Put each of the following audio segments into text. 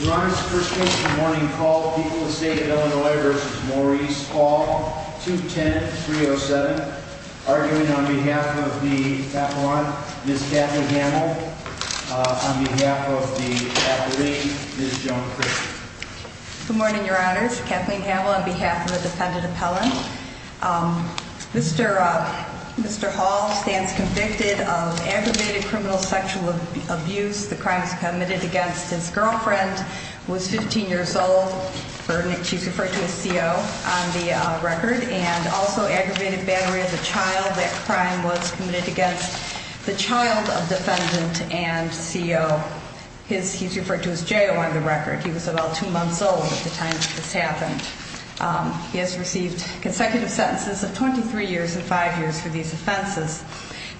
Your Honor, this is the first case of the morning call, People of the State of Illinois v. Maurice Hall, 210-307, arguing on behalf of the appellant, Ms. Kathleen Hamill, on behalf of the appellate, Ms. Joan Christian. Good morning, Your Honors. Kathleen Hamill on behalf of the defendant appellant. Mr. Hall stands convicted of aggravated criminal sexual abuse. The crime was committed against his girlfriend, who was 15 years old. She's referred to as CO on the record. And also aggravated battery of the child. That crime was committed against the child of defendant and CO. He's referred to as JO on the record. He was about two months old at the time that this happened. He has received consecutive sentences of 23 years and five years for these offenses.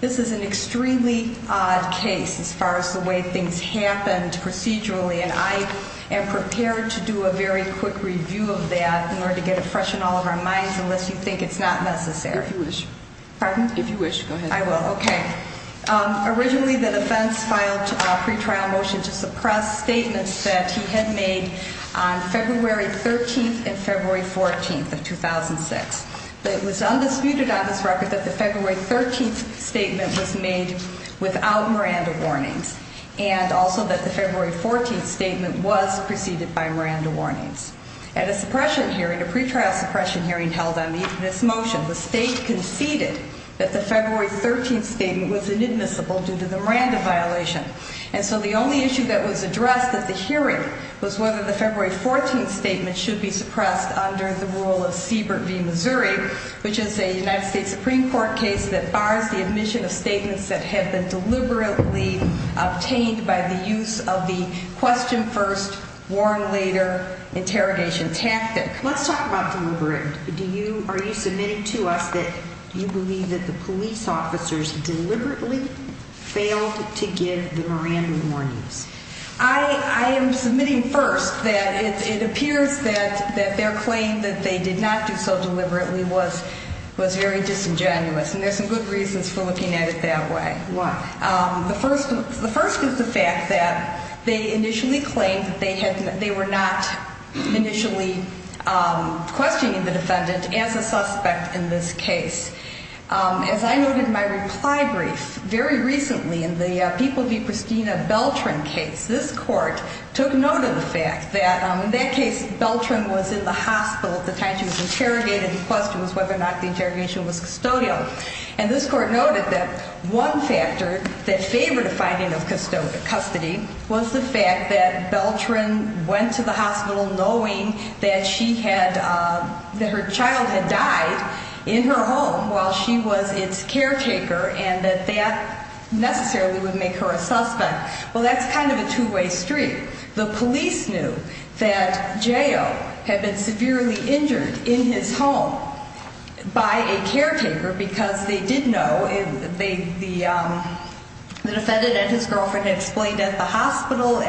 This is an extremely odd case as far as the way things happened procedurally. And I am prepared to do a very quick review of that in order to get it fresh in all of our minds, unless you think it's not necessary. If you wish. Pardon? If you wish, go ahead. I will, okay. Originally, the defense filed a pretrial motion to suppress statements that he had made on February 13th and February 14th of 2006. But it was undisputed on this record that the February 13th statement was made without Miranda warnings. And also that the February 14th statement was preceded by Miranda warnings. At a suppression hearing, a pretrial suppression hearing held on this motion, the state conceded that the February 13th statement was inadmissible due to the Miranda violation. And so the only issue that was addressed at the hearing was whether the February 14th statement should be suppressed under the rule of Siebert v. Missouri, which is a United States Supreme Court case that bars the admission of statements that have been deliberately obtained by the use of the question first, warn later interrogation tactic. Let's talk about deliberate. Are you submitting to us that you believe that the police officers deliberately failed to give the Miranda warnings? I am submitting first that it appears that their claim that they did not do so deliberately was very disingenuous, and there's some good reasons for looking at it that way. Why? The first is the fact that they initially claimed that they were not initially questioning the defendant as a suspect in this case. As I noted in my reply brief, very recently in the People v. Christina Beltran case, this court took note of the fact that in that case, Beltran was in the hospital at the time she was interrogated, the question was whether or not the interrogation was custodial. And this court noted that one factor that favored a finding of custody was the fact that Beltran went to the hospital knowing that she had, that her child had died in her home while she was its caretaker and that that necessarily would make her a suspect. Well, that's kind of a two way street. The police knew that Joe had been severely injured in his home by a caretaker because they did know, the defendant and the hospital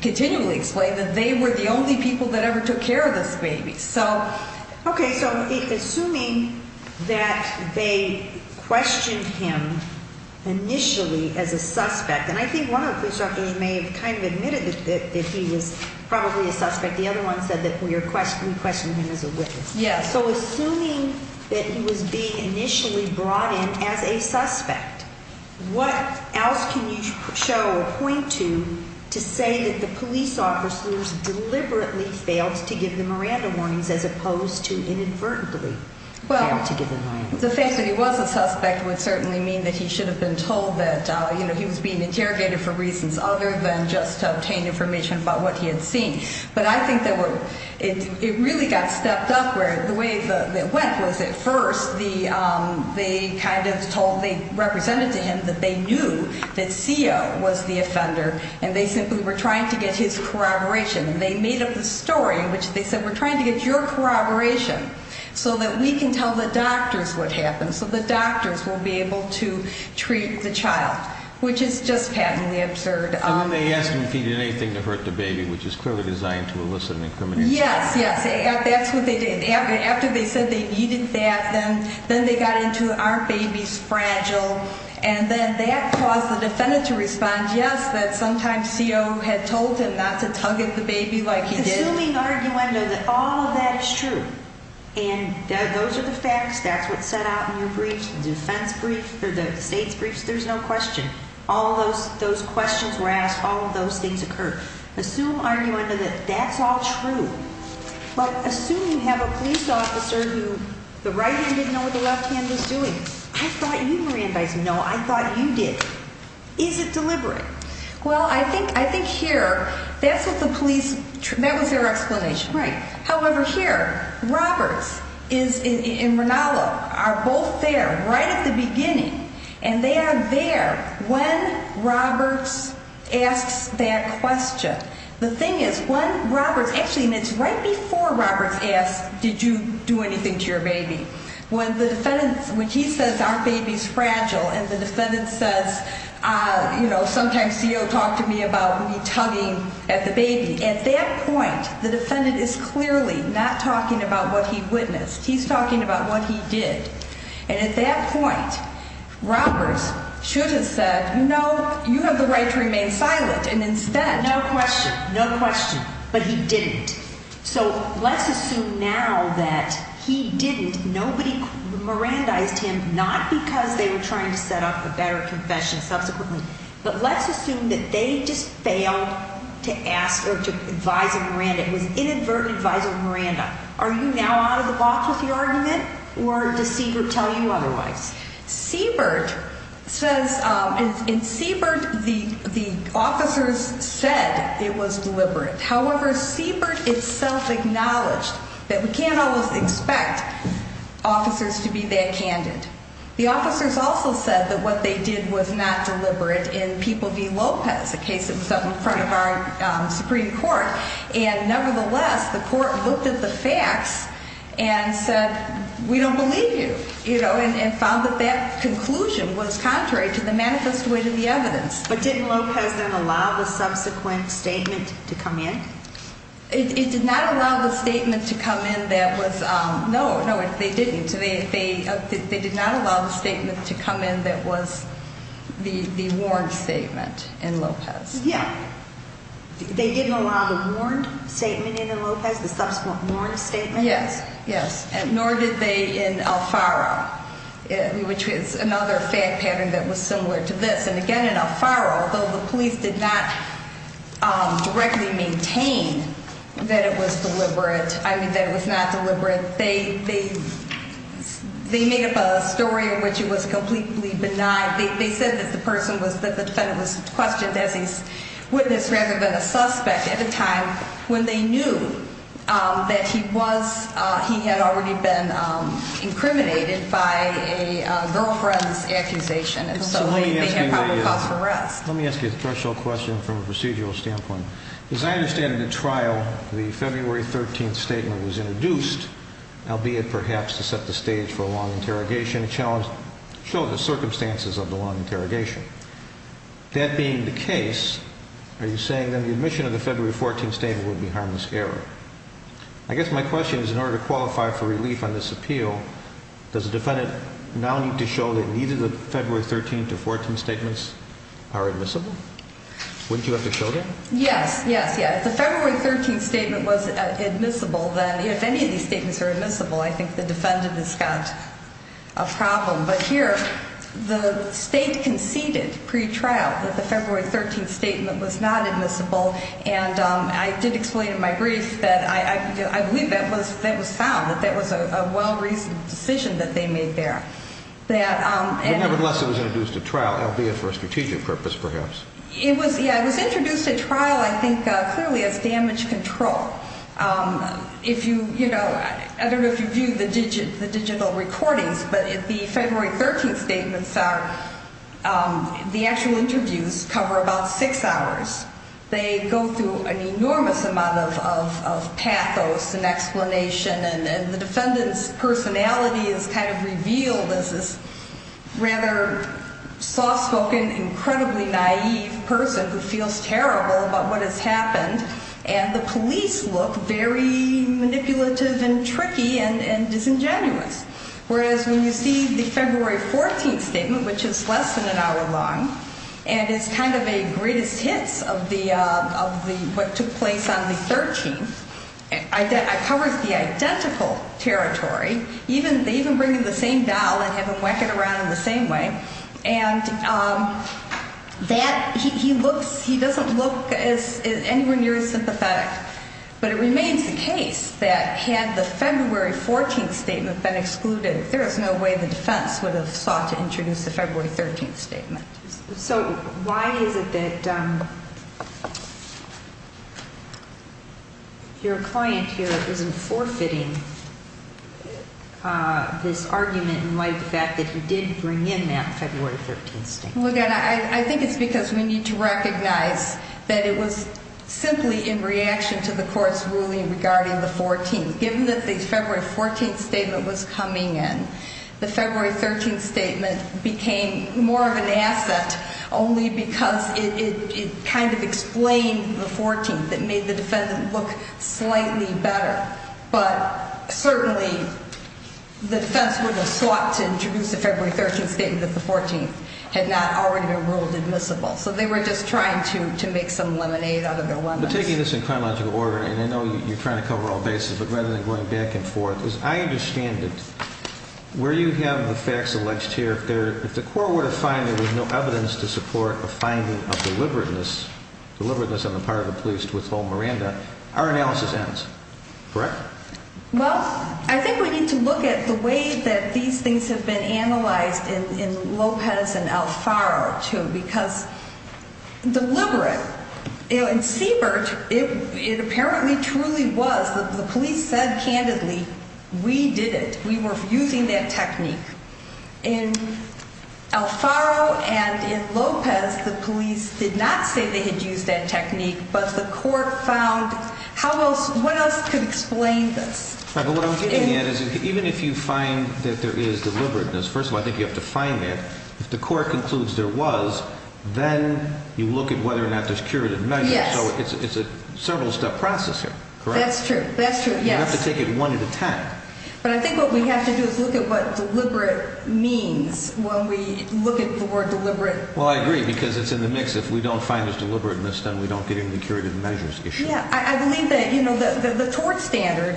continually explained that they were the only people that ever took care of this baby, so. Okay, so assuming that they questioned him initially as a suspect, and I think one of the police doctors may have kind of admitted that he was probably a suspect. The other one said that we questioned him as a witness. Yes. So assuming that he was being initially brought in as a suspect, what else can you show or point to to say that the police officers deliberately failed to give the Miranda warnings as opposed to inadvertently failed to give the Miranda warnings? Well, the fact that he was a suspect would certainly mean that he should have been told that he was being interrogated for reasons other than just to obtain information about what he had seen. But I think that it really got stepped up where the way that it went was at first they kind of told, they represented to him that they knew that CEO was the offender and they simply were trying to get his corroboration and they made up the story in which they said, we're trying to get your corroboration so that we can tell the doctors what happened, so the doctors will be able to treat the child, which is just patently absurd. And then they asked him if he did anything to hurt the baby, which is clearly designed to elicit an incriminating- Yes, yes, that's what they did. After they said they needed that, then they got into, aren't babies fragile? And then that caused the defendant to respond, yes, that sometimes CEO had told him not to tug at the baby like he did. Assuming, arguendo, that all of that is true, and those are the facts, that's what's set out in your briefs, the defense briefs, the state's briefs, there's no question. All those questions were asked, all of those things occurred. Assume, arguendo, that that's all true. But assume you have a police officer who the right hand didn't know what the left hand was doing. I thought you, Miranda, I didn't know, I thought you did. Is it deliberate? Well, I think here, that's what the police, that was their explanation, right. However, here, Roberts and Ranallo are both there, right at the beginning, and they are there when Roberts asks that question. The thing is, when Roberts, actually, and it's right before Roberts asked, did you do anything to your baby? When the defendant, when he says, aren't babies fragile? And the defendant says, sometimes CEO talked to me about me tugging at the baby. At that point, the defendant is clearly not talking about what he witnessed. He's talking about what he did. And at that point, Roberts should have said, no, you have the right to remain silent. And instead- No question, no question. But he didn't. So let's assume now that he didn't, nobody Mirandized him, not because they were trying to set up a better confession subsequently. But let's assume that they just failed to ask, or to advise a Miranda. It was inadvertent advice of Miranda. Are you now out of the box with your argument, or does Seabird tell you otherwise? Seabird says, in Seabird, the officers said it was deliberate. However, Seabird itself acknowledged that we can't always expect officers to be that candid. The officers also said that what they did was not deliberate in People v. Lopez, a case that was up in front of our Supreme Court. And nevertheless, the court looked at the facts and said, we don't believe you. And found that that conclusion was contrary to the manifest way to the evidence. But didn't Lopez then allow the subsequent statement to come in? It did not allow the statement to come in that was, no, no, they didn't. They did not allow the statement to come in that was the warned statement in Lopez. Yeah. They didn't allow the warned statement in Lopez, the subsequent warned statement? Yes, yes, and nor did they in Alfaro, which is another fact pattern that was similar to this. And again, in Alfaro, although the police did not directly maintain that it was deliberate, I mean, that it was not deliberate, they made up a story in which it was completely benign. They said that the person was, that the defendant was questioned as a witness rather than a suspect at a time when they knew that he was, he had already been incriminated by a girlfriend's accusation. And so they had probable cause for arrest. Let me ask you a threshold question from a procedural standpoint. As I understand in the trial, the February 13th statement was introduced, albeit perhaps to set the stage for a long interrogation and show the circumstances of the long interrogation. That being the case, are you saying that the admission of the February 14th statement would be harmless error? I guess my question is, in order to qualify for relief on this appeal, does the defendant now need to show that neither the February 13th to 14th statements are admissible? Wouldn't you have to show that? Yes, yes, yes. If the February 13th statement was admissible, then if any of these statements are admissible, I think the defendant has got a problem. But here, the state conceded pre-trial that the February 13th statement was not admissible. And I did explain in my brief that I believe that was found, that that was a well-reasoned decision that they made there. That- But nevertheless, it was introduced at trial, albeit for a strategic purpose, perhaps. It was, yeah, it was introduced at trial, I think, clearly as damage control. If you, you know, I don't know if you view the digital recordings, but if the February 13th statements are, the actual interviews cover about six hours. They go through an enormous amount of pathos and explanation, and the defendant's personality is kind of revealed as this rather soft-spoken, incredibly naive person who feels terrible about what has happened. And the police look very manipulative and tricky and disingenuous. Whereas when you see the February 14th statement, which is less than an hour long, and it's kind of a greatest hits of the, of the, what took place on the 13th. It covers the identical territory. Even, they even bring in the same doll and have him whack it around in the same way. And that, he, he looks, he doesn't look as, as anywhere near as sympathetic. But it remains the case that had the February 14th statement been excluded, there is no way the defense would have sought to introduce the February 13th statement. So why is it that your client here isn't forfeiting this argument in light of the fact that he didn't bring in that February 13th statement? Well again, I, I think it's because we need to recognize that it was simply in reaction to the court's ruling regarding the 14th. Given that the February 14th statement was coming in, the February 13th statement became more of an asset. Only because it, it, it kind of explained the 14th. It made the defendant look slightly better. But certainly, the defense wouldn't have sought to introduce the February 13th statement if the 14th had not already been ruled admissible. So they were just trying to, to make some lemonade out of their lemons. But taking this in chronological order, and I know you're trying to cover all bases, but rather than going back and forth. As I understand it, where you have the facts alleged here, if there, if the court were to find there was no evidence to support a finding of deliberateness, deliberateness on the part of the police to withhold Miranda, our analysis ends, correct? Well, I think we need to look at the way that these things have been analyzed in, in Lopez and Alfaro too. Because deliberate, you know, in Siebert, it, it apparently truly was, the, the police said candidly, we did it, we were using that technique. In Alfaro and in Lopez, the police did not say they had used that technique, but the court found, how else, what else could explain this? Right, but what I'm getting at is, even if you find that there is deliberateness, first of all, I think you have to find it. If the court concludes there was, then you look at whether or not there's curative measure. Yes. So it's, it's a several step process here, correct? That's true, that's true, yes. You have to take it one at a time. But I think what we have to do is look at what deliberate means, when we look at the word deliberate. Well, I agree, because it's in the mix. If we don't find there's deliberateness, then we don't get into the curative measures issue. Yeah, I, I believe that, you know, the, the, the tort standard,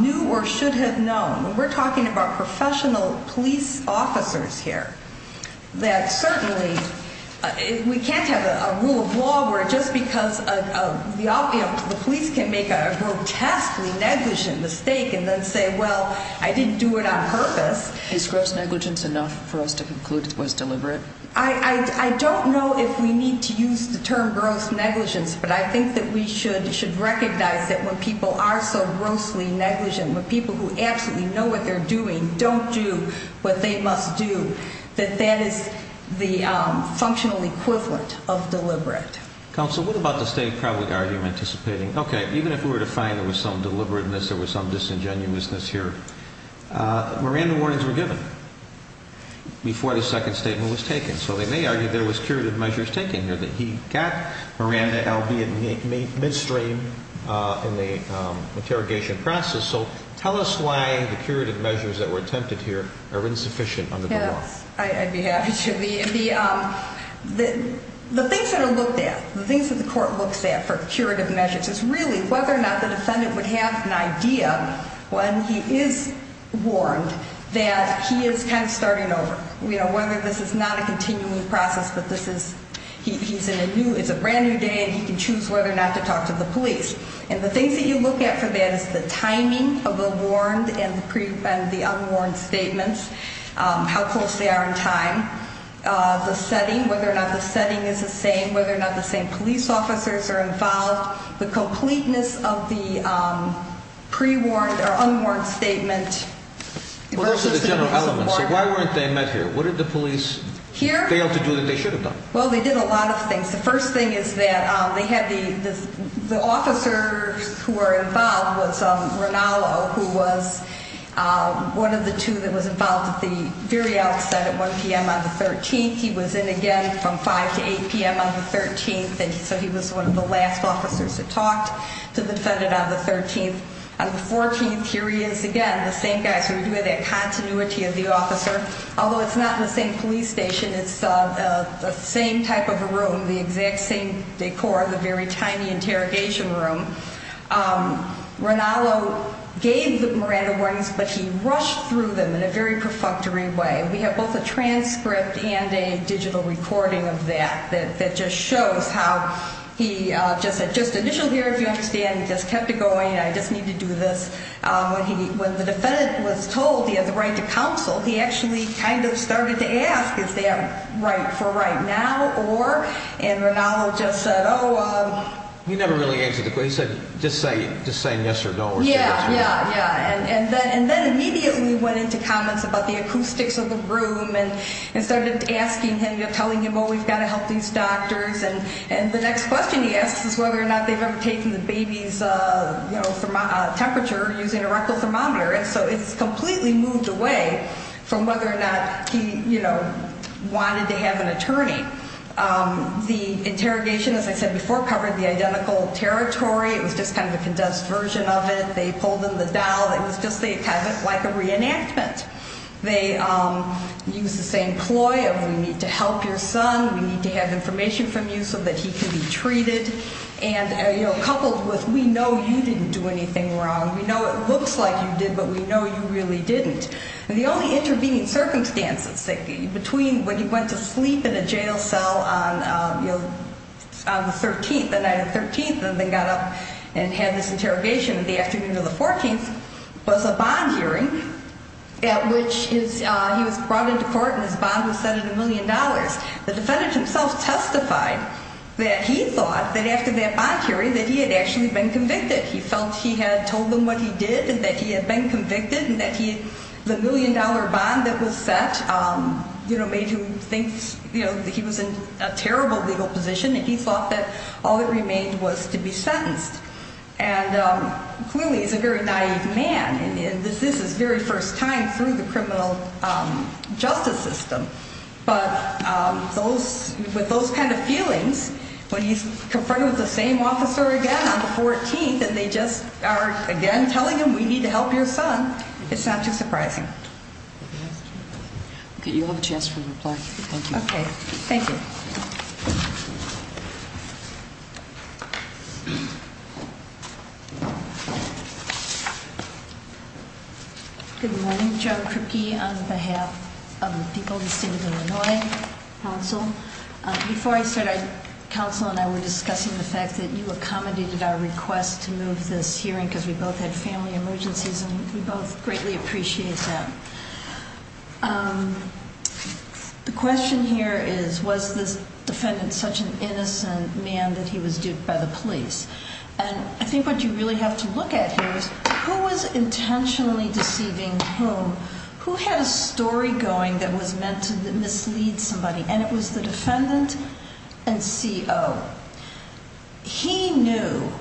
knew or should have known. When we're talking about professional police officers here, that certainly, we can't have a, a rule of law where just because a, a, the, you know, the police can make a grotesquely negligent mistake and then say, well, I didn't do it on purpose. Is gross negligence enough for us to conclude it was deliberate? I, I, I don't know if we need to use the term gross negligence, but I think that we should, should recognize that when people are so grossly negligent, when people who absolutely know what they're doing don't do what they must do, that that is the functional equivalent of deliberate. Counsel, what about the state probably argument anticipating, okay, even if we were to find there was some deliberateness, there was some disingenuousness here, Miranda warnings were given before the second statement was taken. So they may argue there was curative measures taken here that he got Miranda albeit midstream in the interrogation process, so tell us why the curative measures that were attempted here are insufficient under the law. I'd be happy to, the, the, the things that are looked at, the things that the court looks at for curative measures is really whether or not the defendant would have an idea when he is warned that he is kind of starting over. You know, whether this is not a continuing process, but this is, he, he's in a new, it's a brand new day and he can choose whether or not to talk to the police. And the things that you look at for that is the timing of the warned and the pre, and the unwarned statements. How close they are in time. The setting, whether or not the setting is the same, whether or not the same police officers are involved. The completeness of the pre-warned or unwarned statement versus the general element. So why weren't they met here? What did the police fail to do that they should have done? Well, they did a lot of things. The first thing is that they had the, the, the officers who were involved was Rinalo, who was one of the two that was involved at the very outset at 1 PM on the 13th. He was in again from 5 to 8 PM on the 13th, and so he was one of the last officers that talked to the defendant on the 13th. On the 14th, here he is again, the same guy, so we do have that continuity of the officer. Although it's not in the same police station, it's the same type of a room, the exact same decor, the very tiny interrogation room. Rinalo gave the Miranda warnings, but he rushed through them in a very perfunctory way. We have both a transcript and a digital recording of that, that just shows how he just said, just initial here, if you understand, he just kept it going, I just need to do this. When the defendant was told he had the right to counsel, he actually kind of started to ask, is that right for right now, or? And Rinalo just said, oh. He never really answered the question, he said, just say yes or no or say yes or no. Yeah, yeah, yeah, and then immediately went into comments about the acoustics of the room and started asking him, telling him, well, we've got to help these doctors. And the next question he asks is whether or not they've ever taken the baby's temperature using a rectal thermometer. And so it's completely moved away from whether or not he wanted to have an attorney. The interrogation, as I said before, covered the identical territory, it was just kind of a condensed version of it. They pulled in the dial, it was just like a reenactment. They used the same ploy of we need to help your son, we need to have information from you so that he can be treated. And coupled with we know you didn't do anything wrong, we know it looks like you did, but we know you really didn't. And the only intervening circumstances between when he went to sleep in a jail cell on the 13th, the night of the 13th, and then got up and had this interrogation the afternoon of the 14th, was a bond hearing at which he was brought into court and his bond was set at a million dollars. The defendant himself testified that he thought that after that bond hearing that he had actually been convicted. He felt he had told them what he did and that he had been convicted and that the million dollar bond that was set made him think that he was in a terrible legal position. And he thought that all that remained was to be sentenced. And clearly he's a very naive man, and this is his very first time through the criminal justice system. But with those kind of feelings, when he's confronted with the same officer again on the 14th, and they just are again telling him, we need to help your son, it's not too surprising. Okay, you'll have a chance to reply. Thank you. Okay, thank you. Good morning, Joan Kripke on behalf of the people of the state of Illinois Council. Before I started, counsel and I were discussing the fact that you accommodated our request to move this hearing, because we both had family emergencies, and we both greatly appreciate that. The question here is, was this defendant such an innocent man that he was duped by the police? And I think what you really have to look at here is, who was intentionally deceiving whom? Who had a story going that was meant to mislead somebody? And it was the defendant and CO. He knew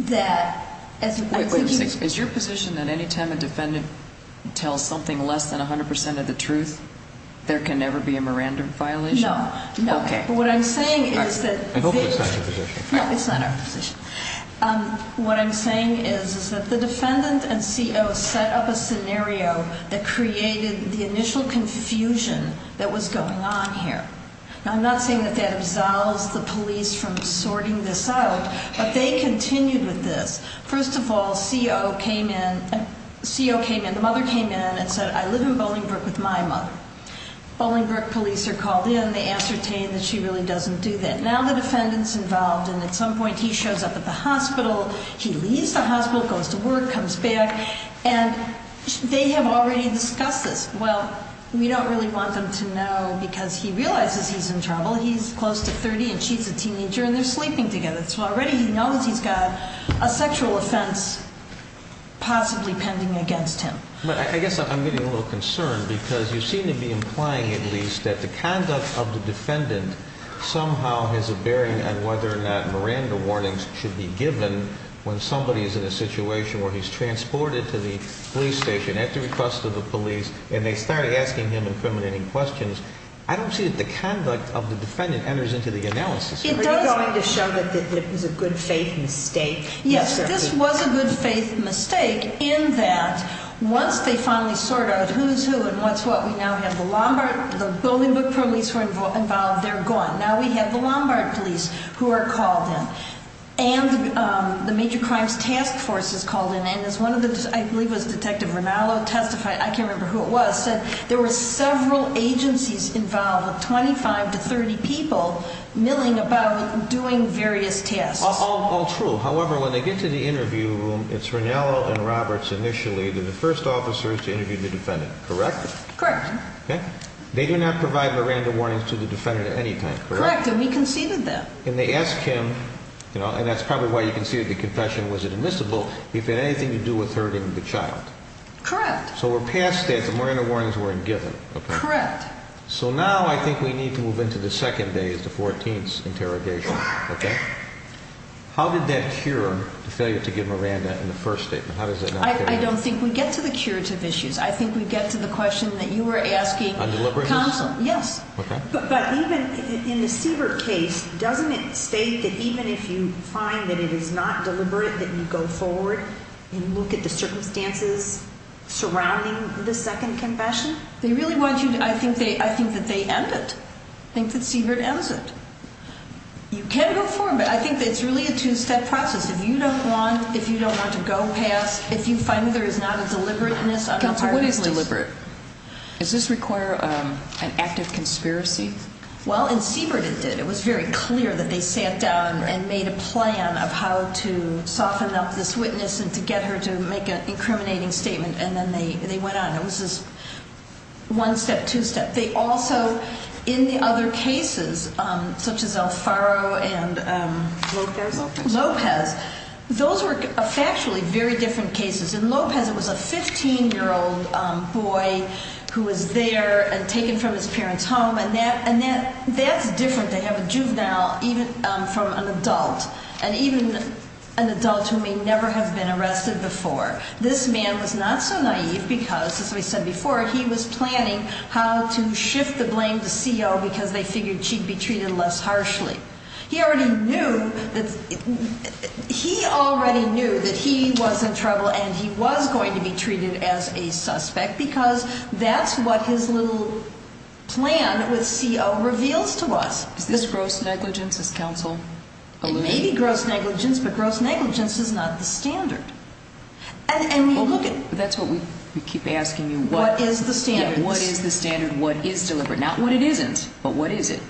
that, as I think he- Wait, wait a second. Is your position that any time a defendant tells something less than 100% of the truth, there can never be a Miranda violation? No, no. Okay. But what I'm saying is that- I hope it's not your position. No, it's not our position. What I'm saying is that the defendant and CO set up a scenario that created the initial confusion that was going on here. Now I'm not saying that that absolves the police from sorting this out, but they continued with this. First of all, CO came in, the mother came in and said, I live in Bolingbrook with my mother. Bolingbrook police are called in, they ascertain that she really doesn't do that. Now the defendant's involved and at some point he shows up at the hospital, he leaves the hospital, goes to work, comes back. And they have already discussed this. Well, we don't really want them to know because he realizes he's in trouble. He's close to 30 and she's a teenager and they're sleeping together. So already he knows he's got a sexual offense possibly pending against him. But I guess I'm getting a little concerned because you seem to be implying at least that the conduct of the defendant somehow has a bearing on whether or not Miranda warnings should be given when somebody is in a situation where he's transported to the police station at the request of the police. And they start asking him incriminating questions. I don't see that the conduct of the defendant enters into the analysis. Are you going to show that it was a good faith mistake? Yes, this was a good faith mistake in that once they finally sort out who's who and what's what, we now have the Lombard, the Bolingbrook police who are involved, they're gone. Now we have the Lombard police who are called in and the major crimes task force is called in. And as one of the, I believe it was Detective Ranallo testified, I can't remember who it was, said there were several agencies involved with 25 to 30 people milling about doing various tasks. All true, however, when they get to the interview room, it's Ranallo and Roberts initially, they're the first officers to interview the defendant, correct? Correct. They do not provide Miranda warnings to the defendant at any time, correct? Correct, and we conceded them. And they ask him, and that's probably why you conceded the confession, was it admissible if it had anything to do with hurting the child? Correct. So we're past that, the Miranda warnings weren't given, okay. Correct. So now I think we need to move into the second day, the 14th interrogation, okay? How did that cure the failure to give Miranda in the first statement? How does that not cure? I don't think we get to the curative issues. I think we get to the question that you were asking. On deliberations? Yes. Okay. But even in the Siebert case, doesn't it state that even if you find that it is not deliberate, that you go forward and look at the circumstances surrounding the second confession? They really want you to, I think that they end it. I think that Siebert ends it. You can go forward, but I think that it's really a two-step process. If you don't want to go past, if you find that there is not a deliberateness on the part of the case- Counsel, what is deliberate? Does this require an act of conspiracy? Well, in Siebert it did. It was very clear that they sat down and made a plan of how to soften up this witness and to get her to make an incriminating statement, and then they went on. It was this one-step, two-step. They also, in the other cases, such as Alfaro and- Lopez? Lopez. Those were factually very different cases. In Lopez, it was a 15-year-old boy who was there and taken from his parents' home. And that's different to have a juvenile from an adult, and even an adult who may never have been arrested before. This man was not so naive because, as I said before, he was planning how to shift the blame to CO because they figured she'd be treated less harshly. He already knew that he was in trouble and he was going to be treated as a suspect because that's what his little plan with CO reveals to us. Is this gross negligence, as counsel alluded? It may be gross negligence, but gross negligence is not the standard. And we look at- That's what we keep asking you. What is the standard? What is the standard? What is deliberate? Not what it isn't, but what is it?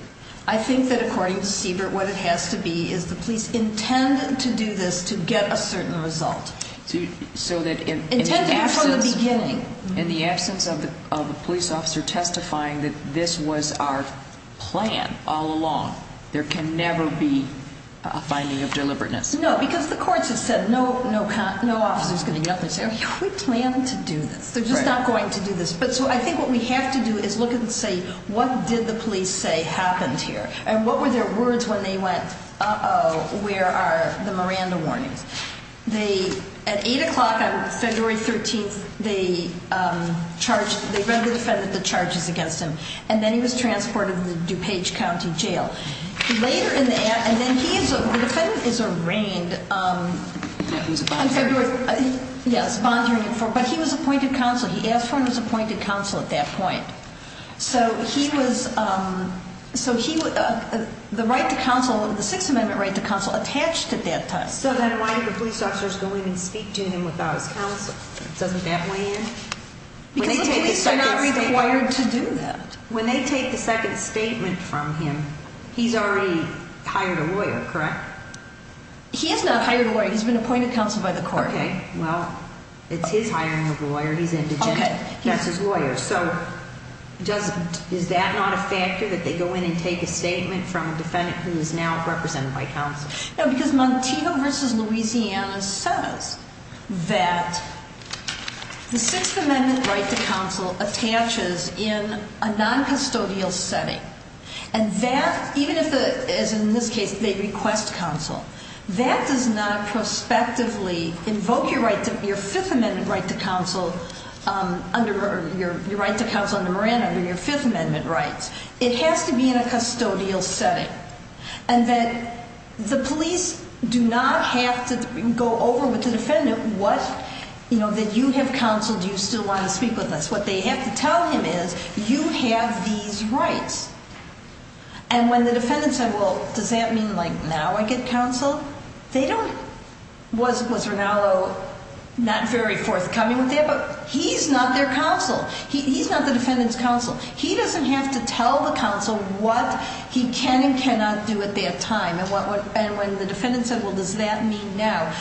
I think that according to Siebert, what it has to be is the police intend to do this to get a certain result. So that in- Intended from the beginning. In the absence of the police officer testifying that this was our plan all along. There can never be a finding of deliberateness. No, because the courts have said no officer's going to get up and say, we planned to do this. They're just not going to do this. But so I think what we have to do is look and say, what did the police say happened here? And what were their words when they went, uh-oh, where are the Miranda warnings? They, at 8 o'clock on February 13th, they read the defendant the charges against him. And then he was transported to the DuPage County Jail. Later in the, and then he is, the defendant is arraigned. Yeah, he was a bond holder. Yes, bond holder, but he was appointed counsel. He asked for and was appointed counsel at that point. So he was, so he, the right to counsel, the Sixth Amendment right to counsel attached at that time. So then why did the police officers go in and speak to him without his counsel? Doesn't that weigh in? Because the police are not required to do that. When they take the second statement from him, he's already hired a lawyer, correct? He has not hired a lawyer, he's been appointed counsel by the court. Okay, well, it's his hiring a lawyer, he's indigent, that's his lawyer. So does, is that not a factor, that they go in and take a statement from a defendant who is now represented by counsel? No, because Montego versus Louisiana says that the Sixth Amendment right to counsel attaches in a non-custodial setting. And that, even if the, as in this case, they request counsel, that does not prospectively invoke your right to, your Fifth Amendment right to counsel under your, your right to counsel under Moran under your Fifth Amendment rights. It has to be in a custodial setting. And that the police do not have to go over with the defendant what, you know, that you have counseled, do you still want to speak with us? What they have to tell him is, you have these rights. And when the defendant said, well, does that mean like now I get counseled? They don't, was, was Ranallo not very forthcoming with that? But he's not their counsel. He, he's not the defendant's counsel. He doesn't have to tell the counsel what he can and cannot do at that time. And what, what, and when the defendant said, well, does that mean now?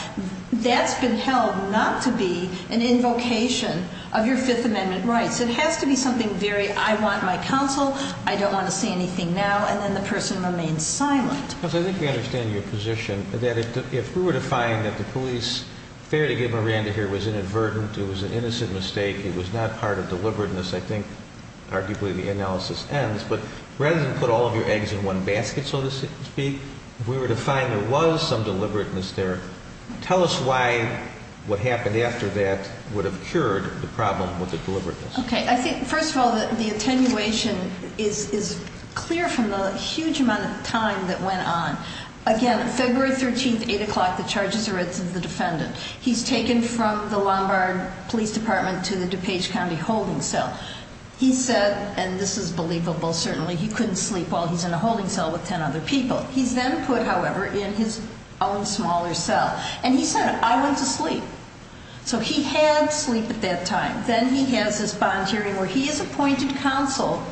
That's been held not to be an invocation of your Fifth Amendment rights. It has to be something very, I want my counsel, I don't want to say anything now, and then the person remains silent. Because I think we understand your position, that if we were to find that the police, fair to give Miranda here, was inadvertent, it was an innocent mistake, it was not part of deliberateness. I think, arguably, the analysis ends, but rather than put all of your eggs in one basket, so to speak. If we were to find there was some deliberateness there, tell us why what happened after that would have cured the problem with the deliberateness. Okay, I think, first of all, the attenuation is, is clear from the huge amount of time that went on. Again, February 13th, 8 o'clock, the charges are at the defendant. He's taken from the Lombard Police Department to the DuPage County holding cell. He said, and this is believable, certainly, he couldn't sleep while he's in a holding cell with ten other people. He's then put, however, in his own smaller cell, and he said, I went to sleep. So he had sleep at that time. Then he has this bond hearing where he is appointed counsel.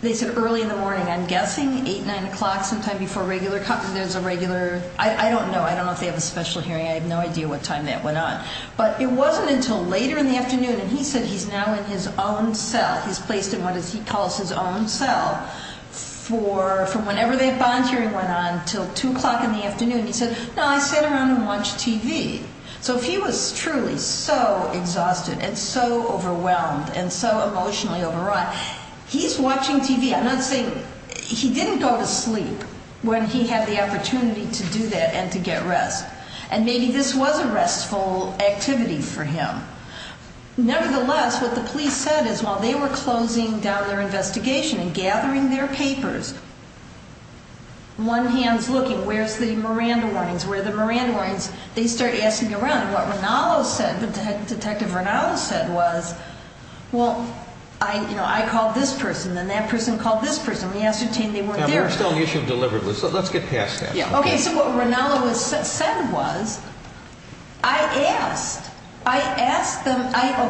They said early in the morning, I'm guessing, 8, 9 o'clock sometime before regular, there's a regular, I don't know. I don't know if they have a special hearing, I have no idea what time that went on. But it wasn't until later in the afternoon, and he said he's now in his own cell. He's placed in what he calls his own cell for whenever the bond hearing went on until 2 o'clock in the afternoon. He said, no, I sit around and watch TV. So if he was truly so exhausted and so overwhelmed and so emotionally overrun, he's watching TV. I'm not saying, he didn't go to sleep when he had the opportunity to do that and to get rest. And maybe this was a restful activity for him. Nevertheless, what the police said is, while they were closing down their investigation and gathering their papers. One hand's looking, where's the Miranda warnings? Where are the Miranda warnings? They start asking around. What Rinaldo said, what Detective Rinaldo said was, well, I called this person. Then that person called this person. We ascertained they weren't there. Now, we're still on the issue of deliverables, so let's get past that. Yeah, okay, so what Rinaldo said was, I asked. I asked them,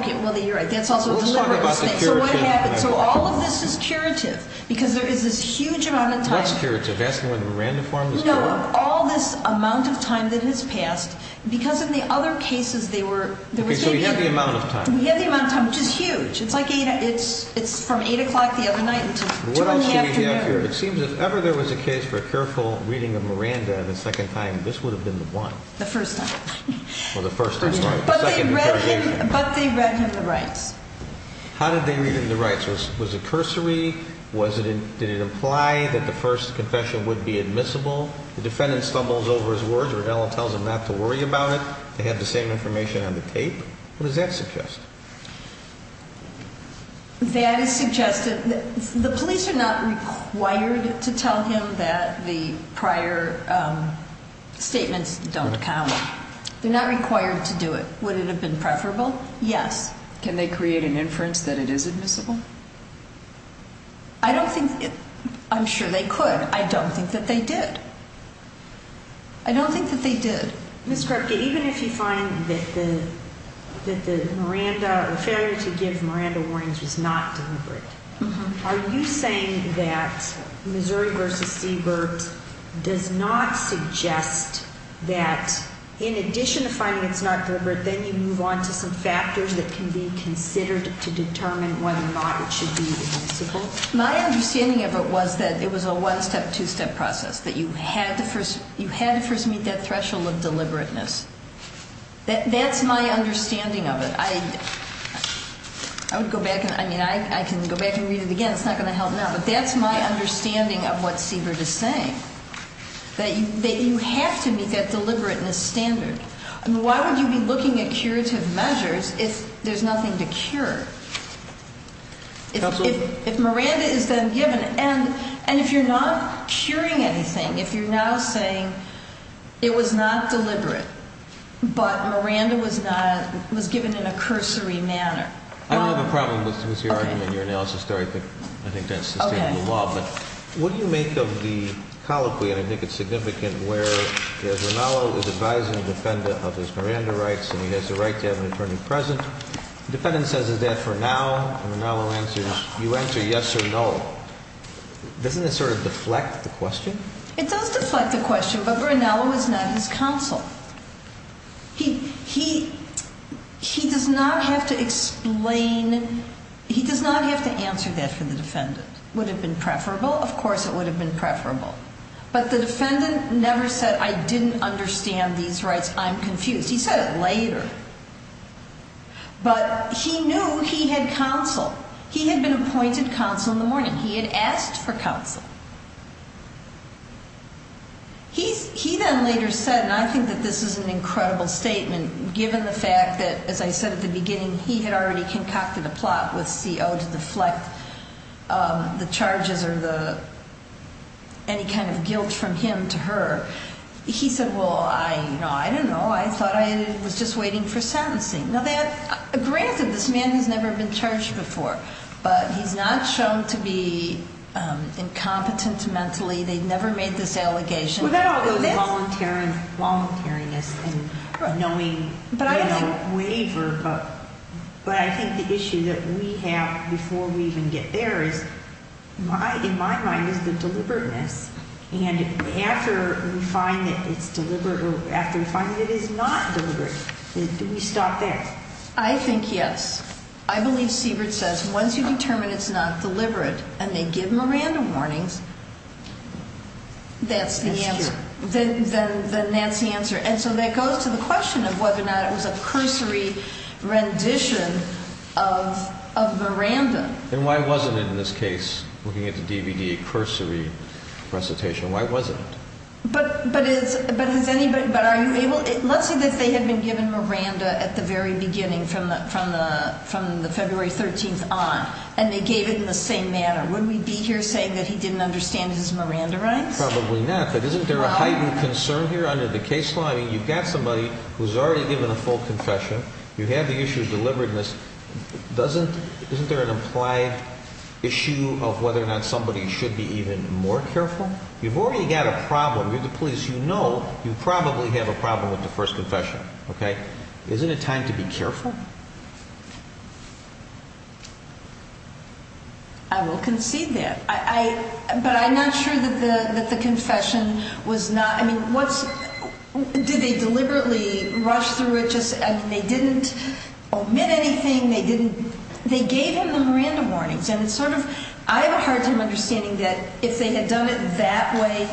okay, well, you're right, that's also a deliberate mistake. So what happened? So all of this is curative, because there is this huge amount of time. What's curative? Asking where the Miranda form is curative? No, all this amount of time that has passed, because in the other cases, they were. Okay, so we have the amount of time. We have the amount of time, which is huge. It's from 8 o'clock the other night until 2 in the afternoon. What else do we have here? It seems if ever there was a case for a careful reading of Miranda the second time, this would have been the one. The first time. Well, the first time. But they read him the rights. How did they read him the rights? Was it cursory? Did it imply that the first confession would be admissible? The defendant stumbles over his words, Rinaldo tells him not to worry about it. They have the same information on the tape. What does that suggest? That is suggested, the police are not required to tell him that the prior statements don't count. They're not required to do it. Would it have been preferable? Yes. Can they create an inference that it is admissible? I don't think, I'm sure they could. I don't think that they did. I don't think that they did. Ms. Krupke, even if you find that the failure to give Miranda warnings was not deliberate, are you saying that Missouri versus Seabird does not suggest that in addition to finding it's not deliberate, then you move on to some factors that can be considered to determine whether or not it should be admissible? My understanding of it was that it was a one-step, two-step process, that you had to first meet that threshold of deliberateness. That's my understanding of it. I would go back and, I mean, I can go back and read it again, it's not going to help now. But that's my understanding of what Seabird is saying, that you have to meet that deliberateness standard. I mean, why would you be looking at curative measures if there's nothing to cure? If Miranda is then given, and if you're not curing anything, if you're now saying it was not deliberate, but that's a cursory manner. I don't have a problem with your argument, your analysis, though I think that's sustainable law. But, what do you make of the colloquy, and I think it's significant, where there's Rinaldo is advising a defendant of his Miranda rights, and he has the right to have an attorney present. Defendant says is that for now, and Rinaldo answers, you answer yes or no. Doesn't that sort of deflect the question? It does deflect the question, but Rinaldo is not his counsel. He does not have to explain, he does not have to answer that for the defendant. Would it have been preferable? Of course, it would have been preferable. But the defendant never said, I didn't understand these rights, I'm confused. He said it later, but he knew he had counsel. He had been appointed counsel in the morning, he had asked for counsel. He then later said, and I think that this is an incredible statement, given the fact that, as I said at the beginning, he had already concocted a plot with CO to deflect the charges or any kind of guilt from him to her. He said, well, I don't know, I thought I was just waiting for sentencing. Now, granted, this man has never been charged before, but he's not shown to be incompetent mentally. They've never made this allegation. Well, that all goes to voluntariness and knowing waiver. But I think the issue that we have before we even get there is, in my mind, is the deliberateness. And after we find that it's deliberate, or after we find that it is not deliberate, do we stop there? I think yes. I believe Siebert says, once you determine it's not deliberate and they give Miranda warnings, that's the answer. Then that's the answer. And so that goes to the question of whether or not it was a cursory rendition of Miranda. And why wasn't it, in this case, looking at the DVD, a cursory recitation, why wasn't it? But let's say that they had been given Miranda at the very beginning from the February 13th on, and they gave it in the same manner. Would we be here saying that he didn't understand his Miranda rights? Probably not, but isn't there a heightened concern here under the case law? I mean, you've got somebody who's already given a full confession. You have the issue of deliberateness. Isn't there an implied issue of whether or not somebody should be even more careful? You've already got a problem. You're the police. You know you probably have a problem with the first confession. Okay? Isn't it time to be careful? I will concede that, but I'm not sure that the confession was not, I mean, what's, did they deliberately rush through it? Just, I mean, they didn't omit anything. They didn't, they gave him the Miranda warnings. And it's sort of, I have a hard time understanding that if they had done it that way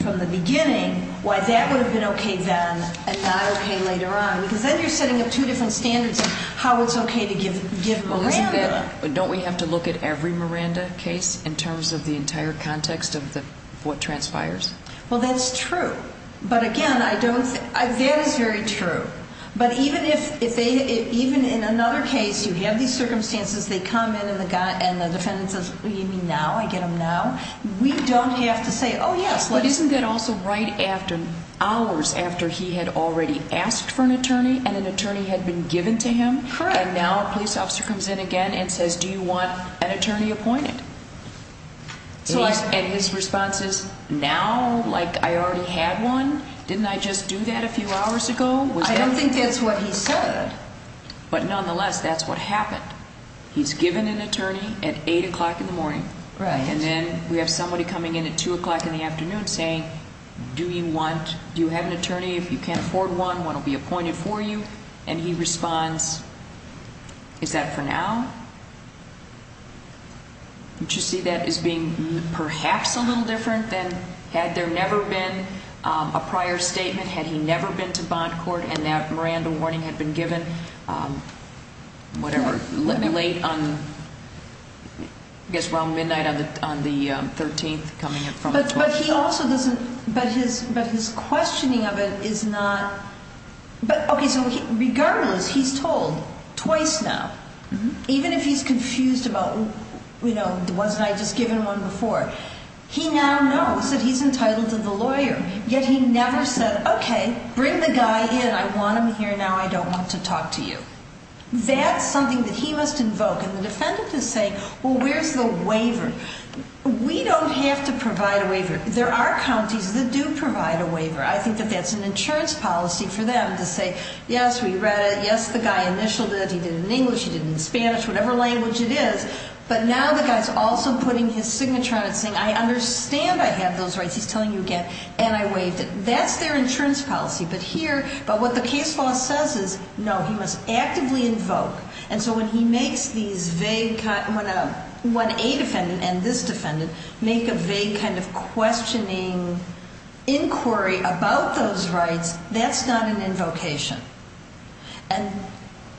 from the beginning, why that would have been okay then and not okay later on. Because then you're setting up two different standards of how it's okay to give Miranda. But don't we have to look at every Miranda case in terms of the entire context of what transpires? Well, that's true. But again, I don't, that is very true. But even if they, even in another case, you have these circumstances. They come in and the defendant says, you mean now, I get them now? We don't have to say, yes, let us- But isn't that also right after, hours after he had already asked for an attorney and an attorney had been given to him? Correct. And now a police officer comes in again and says, do you want an attorney appointed? So I, and his response is, now? Like I already had one? Didn't I just do that a few hours ago? I don't think that's what he said. But nonetheless, that's what happened. He's given an attorney at 8 o'clock in the morning. Right. And then we have somebody coming in at 2 o'clock in the afternoon saying, do you want, do you have an attorney, if you can't afford one, one will be appointed for you? And he responds, is that for now? Don't you see that as being perhaps a little different than had there never been a prior statement? Had he never been to bond court and that Miranda warning had been given, whatever, late on, I guess, around midnight on the 13th, coming in from the 20th? But he also doesn't, but his, but his questioning of it is not, but, okay, so regardless, he's told twice now, even if he's confused about, you know, wasn't I just given one before? He now knows that he's entitled to the lawyer. Yet he never said, okay, bring the guy in. I want him here now. I don't want to talk to you. That's something that he must invoke. And the defendant is saying, well, where's the waiver? We don't have to provide a waiver. There are counties that do provide a waiver. I think that that's an insurance policy for them to say, yes, we read it. Yes, the guy initialed it. He did it in English. He did it in Spanish, whatever language it is. But now the guy's also putting his signature on it saying, I understand I have those rights. He's telling you again, and I waived it. That's their insurance policy. But here, but what the case law says is, no, he must actively invoke. And so when he makes these vague, when a defendant and this defendant make a vague kind of questioning inquiry about those rights, that's not an invocation. And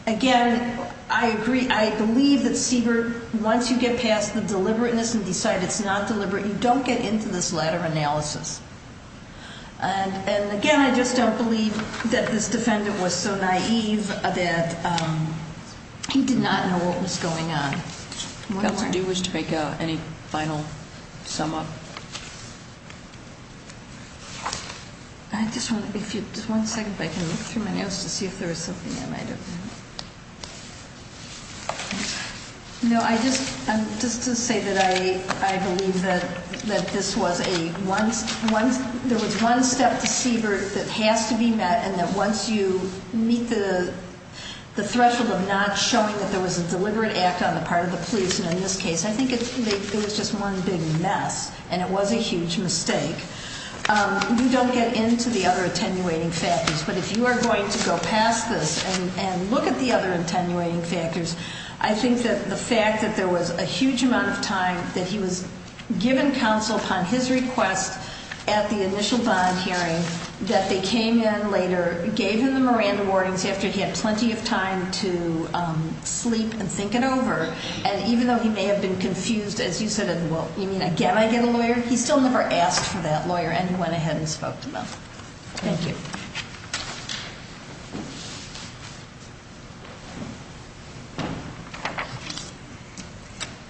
again, I agree, I believe that CBER, once you get past the deliberateness and decide it's not deliberate, you don't get into this latter analysis. And again, I just don't believe that this defendant was so naive that he did not know what was going on. One more. Do you wish to make any final sum up? I just want, if you, just one second if I can look through my notes to see if there's something I might have. No, I just, just to say that I believe that this was a, there was one step to CBER that has to be met, and that once you meet the threshold of not showing that there was a deliberate act on the part of the police, and in this case, I think it was just one big mess, and it was a huge mistake. You don't get into the other attenuating factors, but if you are going to go past this and look at the other attenuating factors, I think that the fact that there was a huge amount of time that he was given counsel upon his request at the initial bond hearing, that they came in later, gave him the Miranda warnings after he had plenty of time to sleep and think it over, and even though he may have been confused, as you said, well, you mean again I get a lawyer? He still never asked for that lawyer, and he went ahead and spoke to them. Thank you.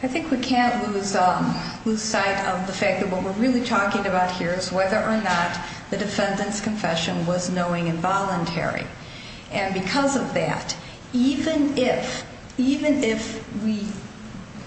I think we can't lose sight of the fact that what we're really talking about here is whether or not the defendant's confession was knowing and voluntary, and because of that, even if, even if we,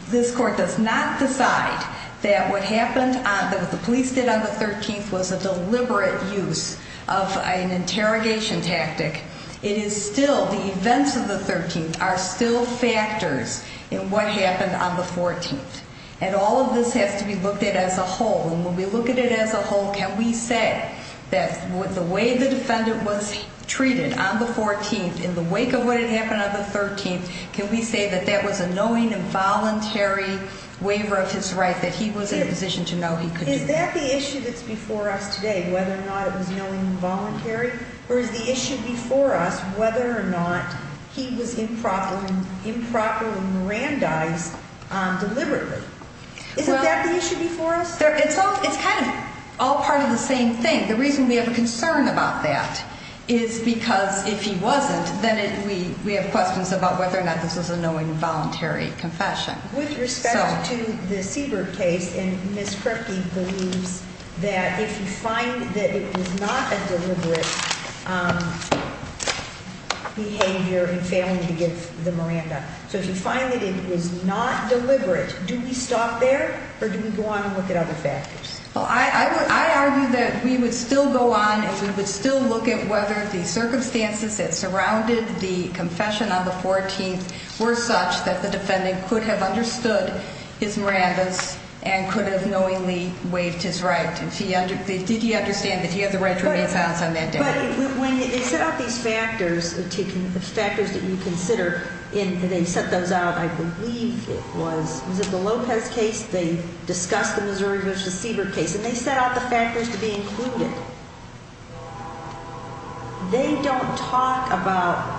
this court does not decide that what happened, that what the police did on the 13th was a deliberate use of an interrogation tactic, it is still, the events of the 13th are still factors in what happened on the 14th, and all of this has to be looked at as a whole, and when we look at it as a whole, can we say that the way the defendant was treated on the 14th in the wake of what had happened on the 13th, can we say that that was a knowing and voluntary waiver of his right, that he was in a position to know he could do that? Is that the issue that's before us today, whether or not it was knowing and voluntary, or is the issue before us whether or not he was improperly Mirandized deliberately? Isn't that the issue before us? It's kind of all part of the same thing. The reason we have a concern about that is because if he wasn't, then we have questions about whether or not this was a knowing and voluntary confession. With respect to the Siebert case, and Ms. Kripke believes that if you find that it was not a deliberate behavior in failing to give the Miranda, so if you find that it was not deliberate, do we stop there, or do we go on and look at other factors? I argue that we would still go on and we would still look at whether the circumstances that surrounded the confession on the 14th were such that the defendant could have understood his Mirandas and could have knowingly waived his right. Did he understand that he had the right to remain silent on that day? But when they set out these factors, the factors that you consider, and they set those out, I believe it was, was it the Lopez case, they discussed the Missouri v. Siebert case, and they set out the factors to be included. They don't talk about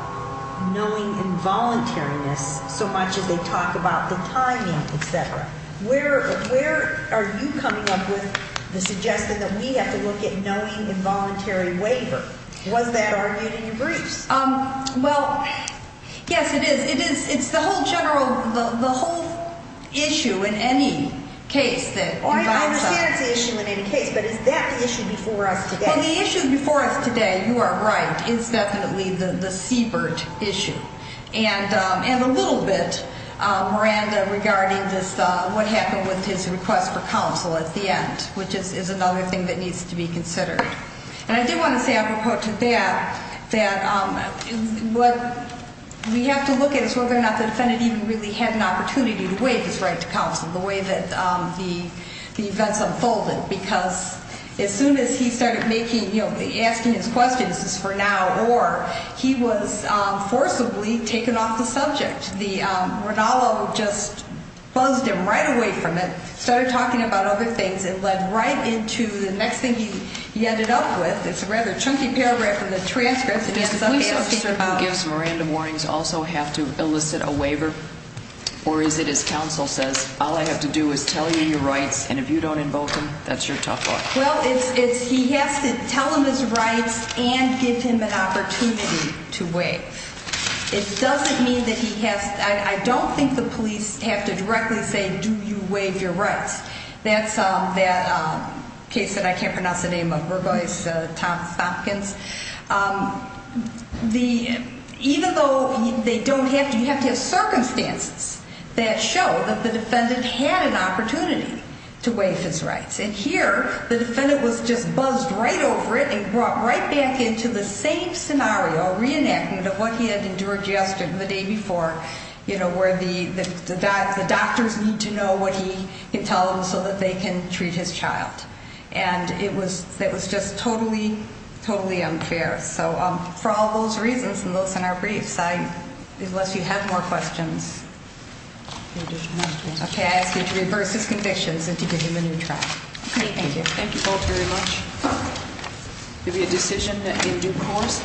knowing involuntariness so much as they talk about the timing, et cetera. Where are you coming up with the suggestion that we have to look at knowing involuntary waiver? Was that argued in your briefs? Well, yes, it is. It is. It's the whole general, the whole issue in any case that involves that. Well, that is the issue in any case, but is that the issue before us today? Well, the issue before us today, you are right, is definitely the Siebert issue. And a little bit, Miranda, regarding this, what happened with his request for counsel at the end, which is another thing that needs to be considered. And I do want to say, apropos to that, that what we have to look at is whether or not the defendant even really had an opportunity to waive his right to counsel the way that the events unfolded. Because as soon as he started asking his questions, this is for now, or he was forcibly taken off the subject. Rinaldo just buzzed him right away from it, started talking about other things. It led right into the next thing he ended up with. It's a rather chunky paragraph in the transcript. Does the police officer who gives Miranda warnings also have to elicit a waiver? Or is it, as counsel says, all I have to do is tell you your rights, and if you don't invoke them, that's your tough luck? Well, it's he has to tell him his rights and give him an opportunity to waive. It doesn't mean that he has to. I don't think the police have to directly say, do you waive your rights? That's that case that I can't pronounce the name of, Burgoyne-Thompkins. Even though they don't have to, you have to have circumstances that show that the defendant had an opportunity to waive his rights. And here, the defendant was just buzzed right over it and brought right back into the same scenario, a reenactment of what he had endured yesterday and the day before, where the doctors need to know what he can tell them so that they can treat his child. And it was just totally, totally unfair. So for all those reasons and those in our briefs, unless you have more questions. Okay, I ask you to reverse his convictions and to give him a new trial. Thank you. Thank you both very much. Any decision in due course?